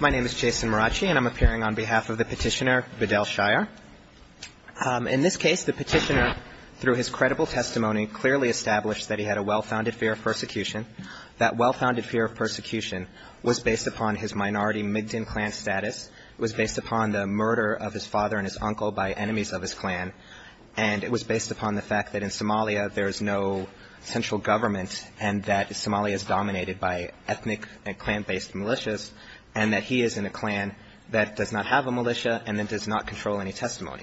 My name is Jason Maracci and I'm appearing on behalf of the petitioner, Bedell Shire. In this case, the petitioner, through his credible testimony, clearly established that he had a well-founded fear of persecution. That well-founded fear of persecution was based upon his minority Mi'kdun clan status, was based upon the murder of his father and his uncle by enemies of his clan, and it was based upon the fact that in Somalia there is no central government and that Somalia is dominated by ethnic and clan-based militias and that he is in a clan that does not have a militia and that does not control any testimony.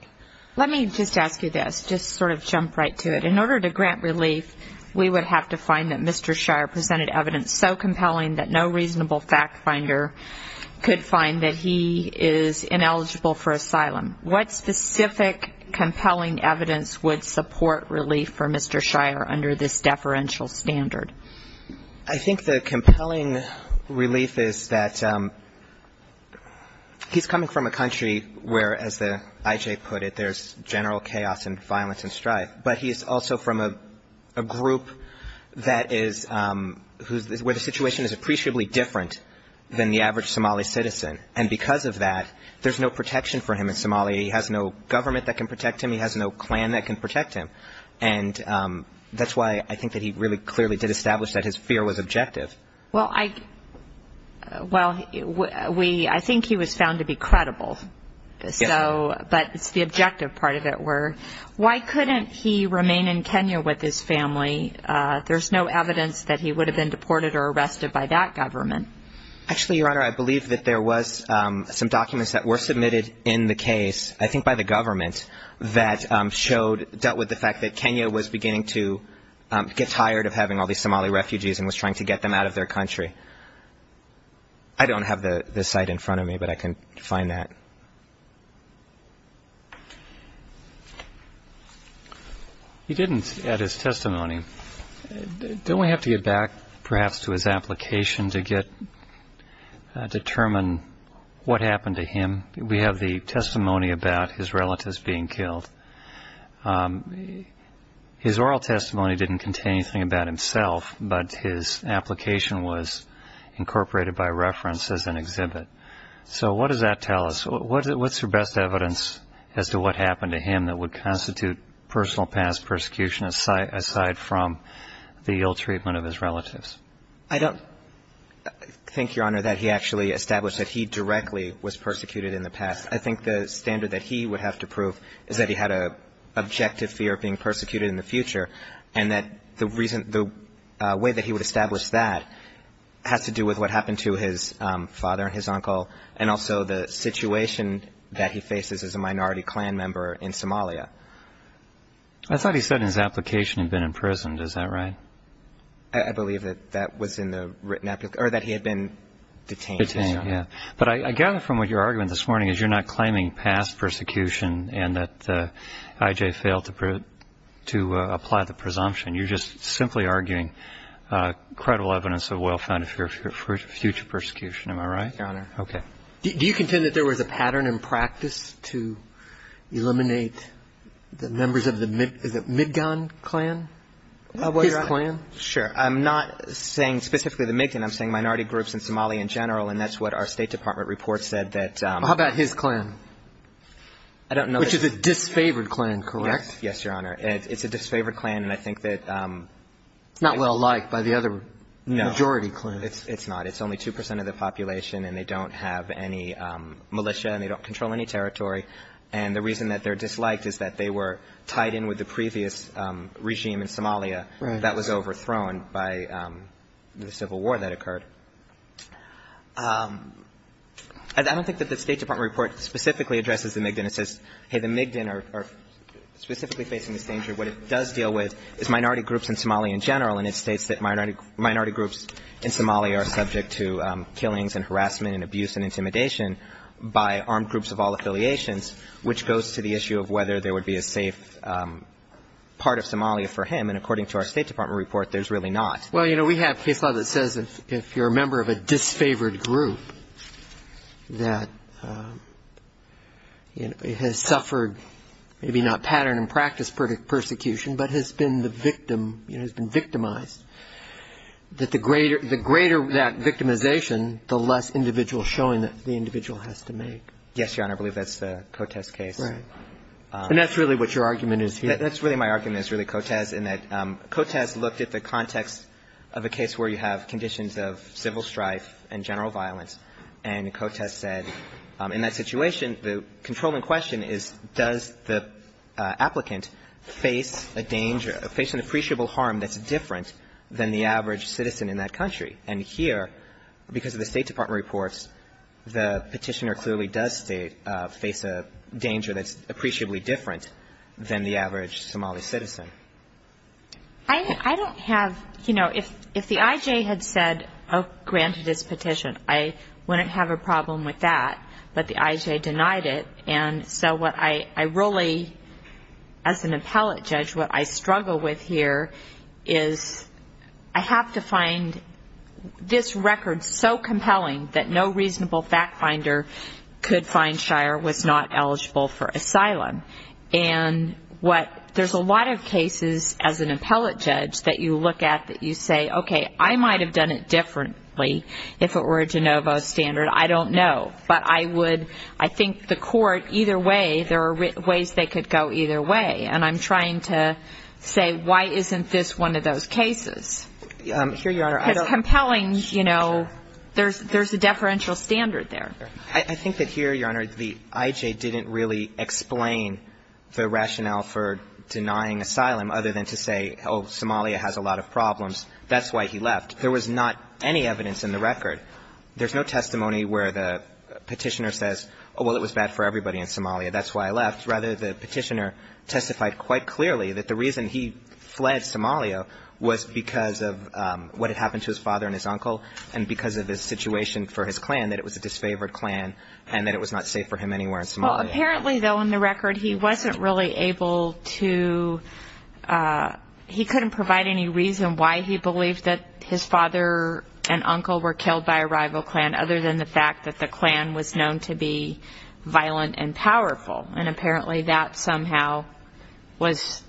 Let me just ask you this, just sort of jump right to it. In order to grant relief, we would have to find that Mr. Shire presented evidence so compelling that no reasonable fact finder could find that he is ineligible for asylum. What specific compelling evidence would support relief for Mr. Shire under this deferential standard? I think the compelling relief is that he's coming from a country where, as the I.J. put it, there's general chaos and violence and strife, but he's also from a group that is, where the situation is appreciably different than the average Somali citizen, and because of that, there's no protection for him in Somalia. He has no government that can protect him. He has no clan that can protect him. And that's why I think that he really clearly did establish that his fear was objective. Well, I think he was found to be credible, but the objective part of it were, why couldn't he remain in Kenya with his family? There's no evidence that he would have been deported or arrested by that government. Actually, Your Honor, I believe that there was some documents that were submitted in the case, I think by the government, that showed, dealt with the fact that Kenya was beginning to get tired of having all these Somali refugees and was trying to get them out of their country. I don't have the site in front of me, but I can find that. He didn't at his testimony. Don't we have to get back, perhaps, to his application to determine what happened to him? We have the testimony about his relatives being killed. His oral testimony didn't contain anything about himself, but his application was incorporated by reference as an exhibit. So what does that tell us? What's your best evidence as to what happened to him that would constitute personal past persecution, aside from the ill treatment of his relatives? I don't think, Your Honor, that he actually established that he directly was persecuted in the past. I think the standard that he would have to prove is that he had an objective fear of being persecuted in the future, and that the way that he would establish that has to do with what happened to his father and his uncle and also the situation that he faces as a minority clan member in Somalia. I thought he said in his application he had been imprisoned. Is that right? I believe that that was in the written application, or that he had been detained. Detained, yes. But I gather from what you're arguing this morning is you're not claiming past persecution and that I.J. failed to apply the presumption. You're just simply arguing credible evidence of well-founded future persecution. Am I right? Your Honor. Okay. Do you contend that there was a pattern in practice to eliminate the members of the Midgan clan? His clan? Sure. I'm not saying specifically the Midgan. I'm saying minority groups in Somalia in general, and that's what our State Department report said that... How about his clan? I don't know. Which is a disfavored clan, correct? Yes, Your Honor. It's a disfavored clan, and I think that... It's not well-liked by the other majority clans. No, it's not. It's only 2 percent of the population, and they don't have any militia, and they don't control any territory. And the reason that they're disliked is that they were tied in with the previous regime in Somalia. Right. That was overthrown by the civil war that occurred. I don't think that the State Department report specifically addresses the Midgan. It says, hey, the Midgan are specifically facing this danger. What it does deal with is minority groups in Somalia in general, and it states that minority groups in Somalia are subject to killings and harassment and abuse and intimidation by armed groups of all affiliations, which goes to the issue of whether there would be a safe part of Somalia for him. And according to our State Department report, there's really not. Well, you know, we have case law that says if you're a member of a disfavored group that has suffered maybe not pattern and practice persecution, but has been the victim, you know, has been victimized, that the greater that victimization, the less individual showing that the individual has to make. Yes, Your Honor. I believe that's the Cotes case. Right. And that's really what your argument is here. That's really my argument is really Cotes, in that Cotes looked at the context of a case where you have conditions of civil strife and general violence, and Cotes said in that situation, the controlling question is, does the applicant face a danger, face an appreciable harm that's different than the average citizen in that country? And here, because of the State Department reports, the petitioner clearly does face a danger that's appreciably different than the average Somali citizen. I don't have, you know, if the I.J. had said, oh, granted his petition, I wouldn't have a problem with that. But the I.J. denied it. And so what I really, as an appellate judge, what I struggle with here is I have to find this record so compelling that no reasonable fact finder could find Shire was not eligible for asylum. And what there's a lot of cases as an appellate judge that you look at that you say, okay, I might have done it differently if it were a de novo standard. I don't know. But I would, I think the court, either way, there are ways they could go either way. And I'm trying to say, why isn't this one of those cases? Because compelling, you know, there's a deferential standard there. I think that here, Your Honor, the I.J. didn't really explain the rationale for denying asylum other than to say, oh, Somalia has a lot of problems. That's why he left. There was not any evidence in the record. There's no testimony where the petitioner says, oh, well, it was bad for everybody in Somalia. That's why I left. Rather, the petitioner testified quite clearly that the reason he fled Somalia was because of what had happened to his father and his uncle and because of his situation for his clan, that it was a disfavored clan and that it was not safe for him anywhere in Somalia. Well, apparently, though, in the record, he wasn't really able to, he couldn't provide any reason why he believed that his father and uncle were killed by a rival clan other than the fact that the clan was known to be violent and powerful, and apparently that somehow was,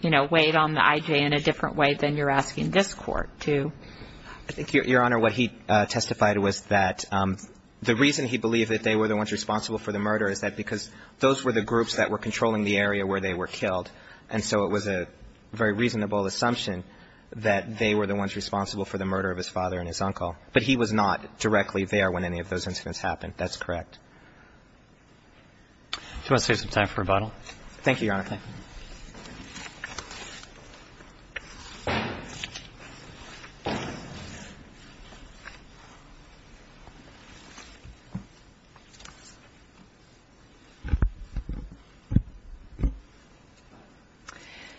you know, weighed on the I.J. in a different way than you're asking this Court to. I think, Your Honor, what he testified was that the reason he believed that they were the ones responsible for the murder is that because those were the groups that were controlling the area where they were killed, and so it was a very reasonable assumption that they were the ones responsible for the murder of his father and his uncle. But he was not directly there when any of those incidents happened. That's correct. Do you want to save some time for rebuttal? Thank you, Your Honor. Okay.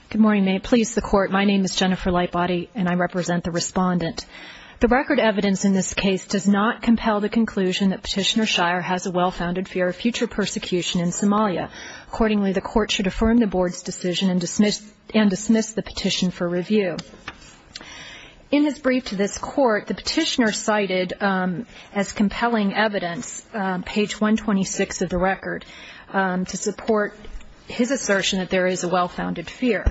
Good morning, please, the Court. My name is Jennifer Lightbody, and I represent the respondent. The record evidence in this case does not compel the conclusion that Petitioner Shire has a well-founded fear of future persecution in Somalia. Accordingly, the Court should affirm the Board's decision and dismiss the petition for review. In his brief to this Court, the Petitioner cited as compelling evidence, page 126 of the record, to support his assertion that there is a well-founded fear.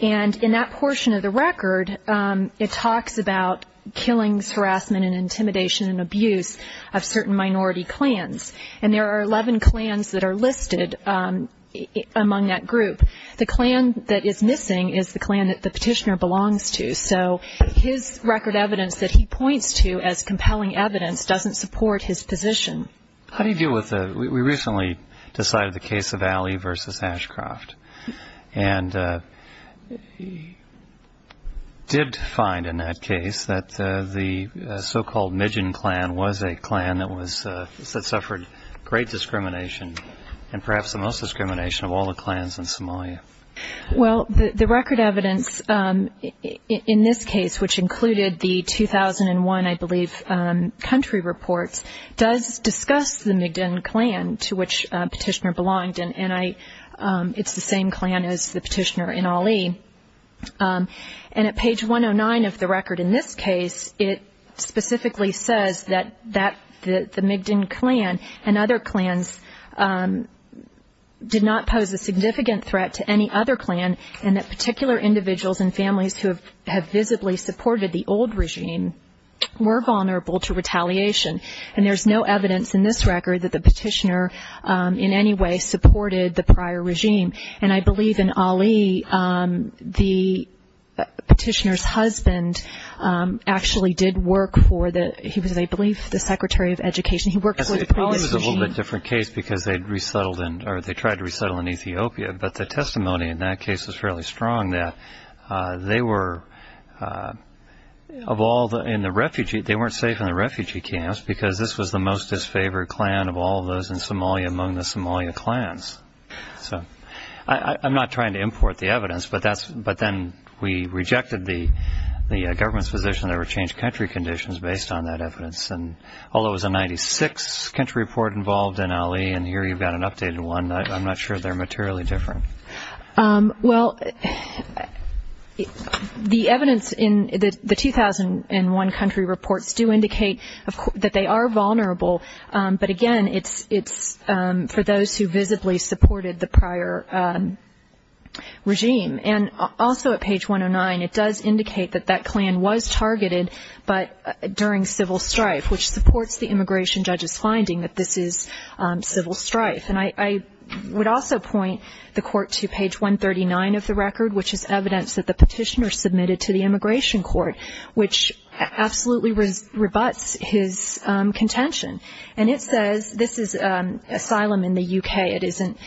And in that portion of the record, it talks about killings, harassment and intimidation and abuse of certain minority clans. And there are 11 clans that are listed among that group. The clan that is missing is the clan that the Petitioner belongs to. So his record evidence that he points to as compelling evidence doesn't support his position. How do you deal with the we recently decided the case of Alley v. Ashcroft, and did find in that case that the so-called Mijin clan was a clan that suffered great discrimination and perhaps the most discrimination of all the clans in Somalia? Well, the record evidence in this case, which included the 2001, I believe, country reports, does discuss the Mijin clan to which Petitioner belonged. And it's the same clan as the Petitioner in Alley. And at page 109 of the record in this case, it specifically says that the Mijin clan and other clans did not pose a significant threat to any other clan, and that particular individuals and families who have visibly supported the old regime were vulnerable to retaliation. And there's no evidence in this record that the Petitioner in any way supported the prior regime. And I believe in Alley, the Petitioner's husband actually did work for the he was, I believe, the Secretary of Education. He worked for the previous regime. It probably was a little bit different case because they'd resettled in or they tried to resettle in Ethiopia. But the testimony in that case was fairly strong that they were, of all in the refugee, they weren't safe in the refugee camps because this was the most disfavored clan of all those in Somalia among the Somalia clans. So I'm not trying to import the evidence, but then we rejected the government's position that it would change country conditions based on that evidence. And although it was a 96 country report involved in Alley, and here you've got an updated one, I'm not sure they're materially different. Well, the evidence in the 2001 country reports do indicate that they are vulnerable. But, again, it's for those who visibly supported the prior regime. And also at page 109, it does indicate that that clan was targeted during civil strife, which supports the immigration judge's finding that this is civil strife. And I would also point the court to page 139 of the record, which is evidence that the petitioner submitted to the immigration court, which absolutely rebuts his contention. And it says this is asylum in the U.K. It isn't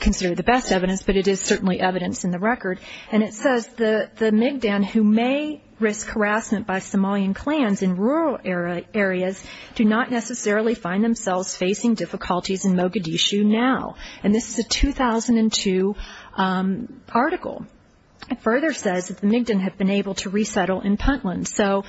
considered the best evidence, but it is certainly evidence in the record. And it says the Migdan who may risk harassment by Somalian clans in rural areas do not necessarily find themselves facing difficulties in Mogadishu now. And this is a 2002 article. It further says that the Migdan have been able to resettle in Puntland. So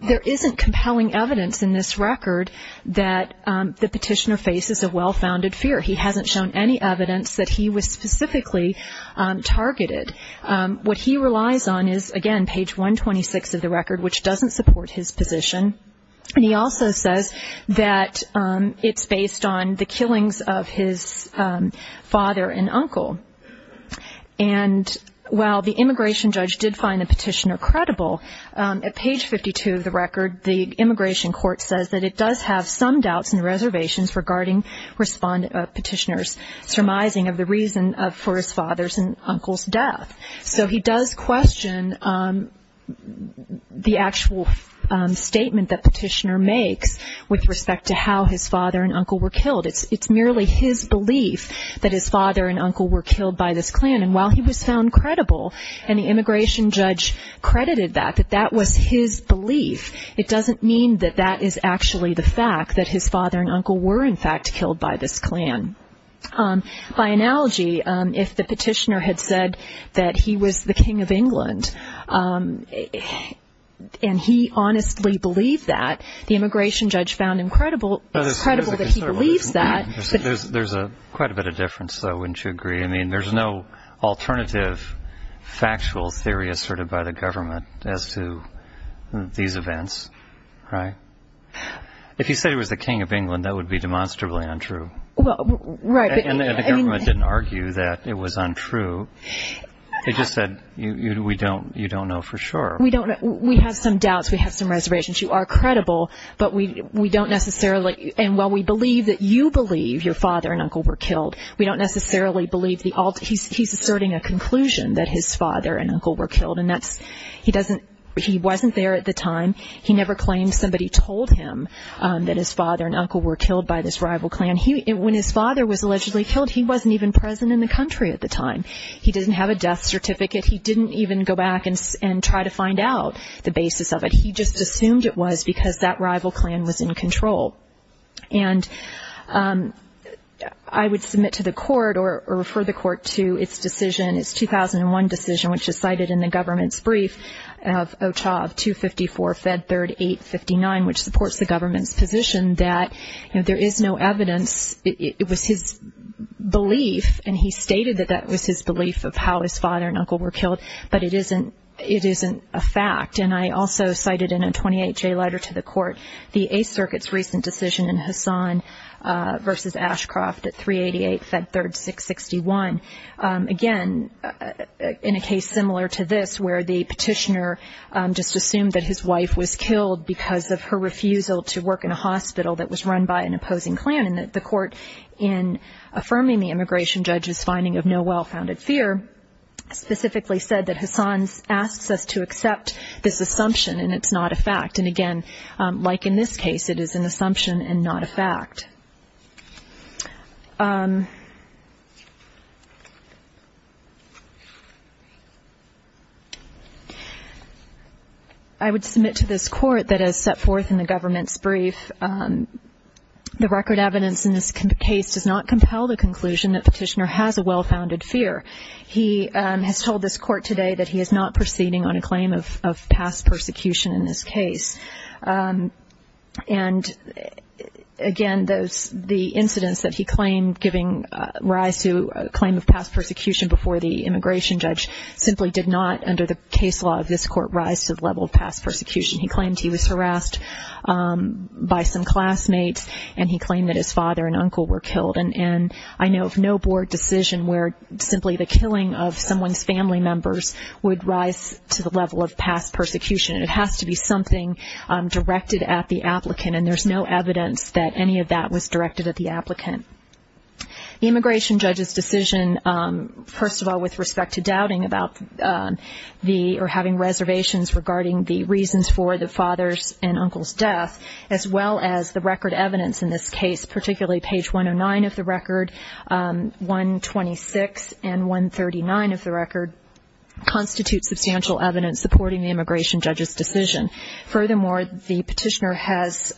there isn't compelling evidence in this record that the petitioner faces a well-founded fear. He hasn't shown any evidence that he was specifically targeted. What he relies on is, again, page 126 of the record, which doesn't support his position. And he also says that it's based on the killings of his father and uncle. And while the immigration judge did find the petitioner credible, at page 52 of the record, the immigration court says that it does have some doubts regarding petitioner's surmising of the reason for his father's and uncle's death. So he does question the actual statement that petitioner makes with respect to how his father and uncle were killed. It's merely his belief that his father and uncle were killed by this clan. And while he was found credible, and the immigration judge credited that, that that was his belief, it doesn't mean that that is actually the fact that his father and uncle were, in fact, killed by this clan. By analogy, if the petitioner had said that he was the king of England and he honestly believed that, the immigration judge found incredible that he believes that. There's quite a bit of difference, though, wouldn't you agree? I mean, there's no alternative factual theory asserted by the government as to these events, right? If he said he was the king of England, that would be demonstrably untrue. Well, right. And the government didn't argue that it was untrue. They just said, you don't know for sure. We have some doubts. We have some reservations. You are credible, but we don't necessarily, and while we believe that you believe your father and uncle were killed, we don't necessarily believe the ultimate. He's asserting a conclusion that his father and uncle were killed, and he wasn't there at the time. He never claimed somebody told him that his father and uncle were killed by this rival clan. When his father was allegedly killed, he wasn't even present in the country at the time. He didn't have a death certificate. He didn't even go back and try to find out the basis of it. He just assumed it was because that rival clan was in control. And I would submit to the court or refer the court to its decision, its 2001 decision, which is cited in the government's brief of OCHA of 254 Fed 3859, which supports the government's position that there is no evidence. It was his belief, and he stated that that was his belief of how his father and uncle were killed, but it isn't a fact. And I also cited in a 28-J letter to the court, the Eighth Circuit's recent decision in Hassan v. Ashcroft at 388 Fed 3661. Again, in a case similar to this where the petitioner just assumed that his wife was killed because of her refusal to work in a hospital that was run by an opposing clan, and the court, in affirming the immigration judge's finding of no well-founded fear, specifically said that Hassan asks us to accept this assumption, and it's not a fact. And again, like in this case, it is an assumption and not a fact. I would submit to this court that as set forth in the government's brief, the record evidence in this case does not compel the conclusion that the petitioner has a well-founded fear. He has told this court today that he is not proceeding on a claim of past persecution in this case. And again, the incidents that he claimed giving rise to a claim of past persecution before the immigration judge simply did not, under the case law of this court, rise to the level of past persecution. He claimed he was harassed by some classmates, and he claimed that his father and uncle were killed. And I know of no board decision where simply the killing of someone's family members would rise to the level of past persecution. It has to be something directed at the applicant, and there's no evidence that any of that was directed at the applicant. The immigration judge's decision, first of all, with respect to doubting about the or having reservations regarding the reasons for the father's and uncle's death, as well as the record evidence in this case, particularly page 109 of the record, 126, and 139 of the record constitute substantial evidence supporting the immigration judge's decision. Furthermore, the petitioner has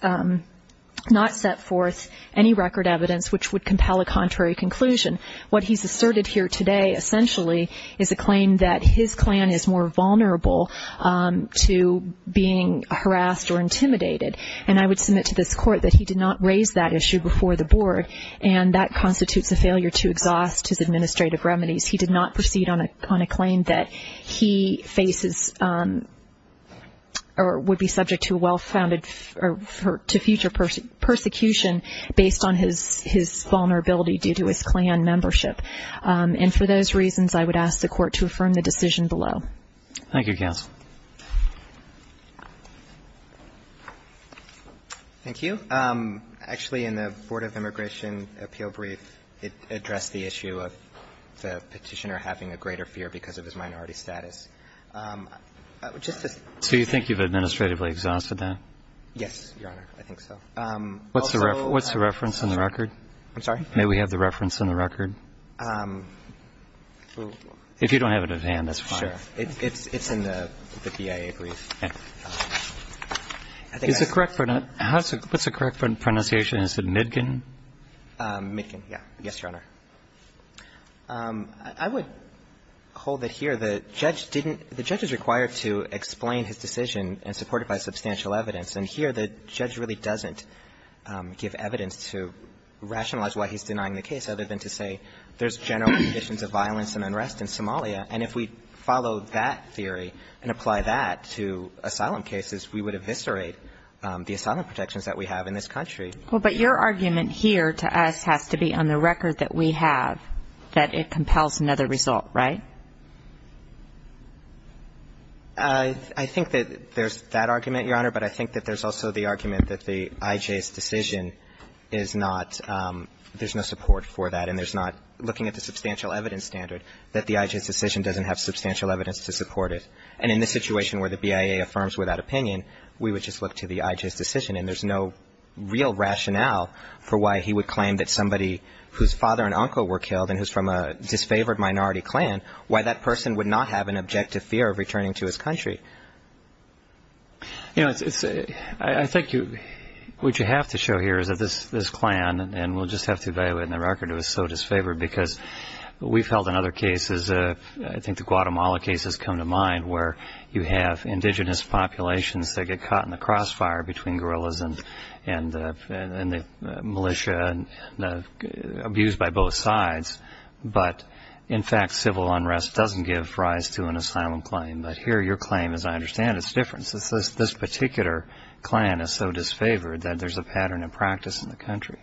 not set forth any record evidence which would compel a contrary conclusion. What he's asserted here today, essentially, is a claim that his clan is more vulnerable to being harassed or intimidated, and I would submit to this court that he did not raise that issue before the board, and that constitutes a failure to exhaust his administrative remedies. He did not proceed on a claim that he faces or would be subject to well-founded or to future persecution based on his vulnerability due to his clan membership. And for those reasons, I would ask the court to affirm the decision below. Thank you, counsel. Thank you. Actually, in the Board of Immigration appeal brief, it addressed the issue of the petitioner having a greater fear because of his minority status. So you think you've administratively exhausted that? Yes, Your Honor, I think so. What's the reference in the record? I'm sorry? May we have the reference in the record? If you don't have it at hand, that's fine. Sure. It's in the BIA brief. What's the correct pronunciation? Is it Midgen? Midgen, yes, Your Honor. I would hold it here that the judge is required to explain his decision and support it by substantial evidence, and here the judge really doesn't give evidence to rationalize why he's denying the case other than to say there's general conditions of violence and unrest in Somalia, and if we follow that theory and apply that to asylum cases, we would eviscerate the asylum protections that we have in this country. Well, but your argument here to us has to be on the record that we have, that it compels another result, right? I think that there's that argument, Your Honor, but I think that there's also the argument that the IJ's decision is not – there's no support for that, and there's not – looking at the substantial evidence standard, that the IJ's decision doesn't have substantial evidence to support it. And in the situation where the BIA affirms without opinion, we would just look to the IJ's decision, and there's no real rationale for why he would claim that somebody whose father and uncle were killed and who's from a disfavored minority clan, why that person would not have an objective fear of returning to his country. You know, I think what you have to show here is that this clan – and we'll just have to evaluate on the record – is so disfavored, because we've held in other cases – I think the Guatemala case has come to mind, where you have indigenous populations that get caught in the crossfire between guerrillas and the militia, abused by both sides, but in fact, civil unrest doesn't give rise to an asylum claim. But here, your claim, as I understand it, is different. This particular clan is so disfavored that there's a pattern of practice in the country.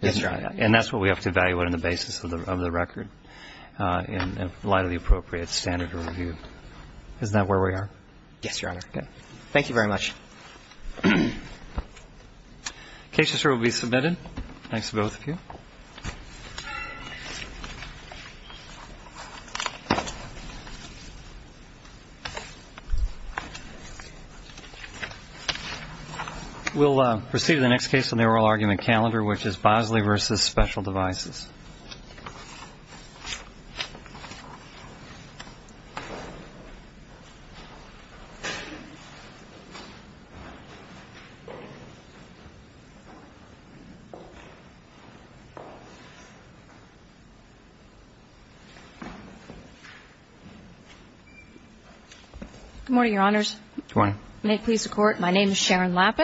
Yes, Your Honor. And that's what we have to evaluate on the basis of the record in light of the appropriate standard of review. Isn't that where we are? Yes, Your Honor. Good. Thank you very much. The case is here to be submitted. Thanks to both of you. We'll proceed to the next case on the oral argument calendar, which is Bosley v. Special Good morning, Your Honors. Good morning. May it please the Court, my name is Sharon Lappin.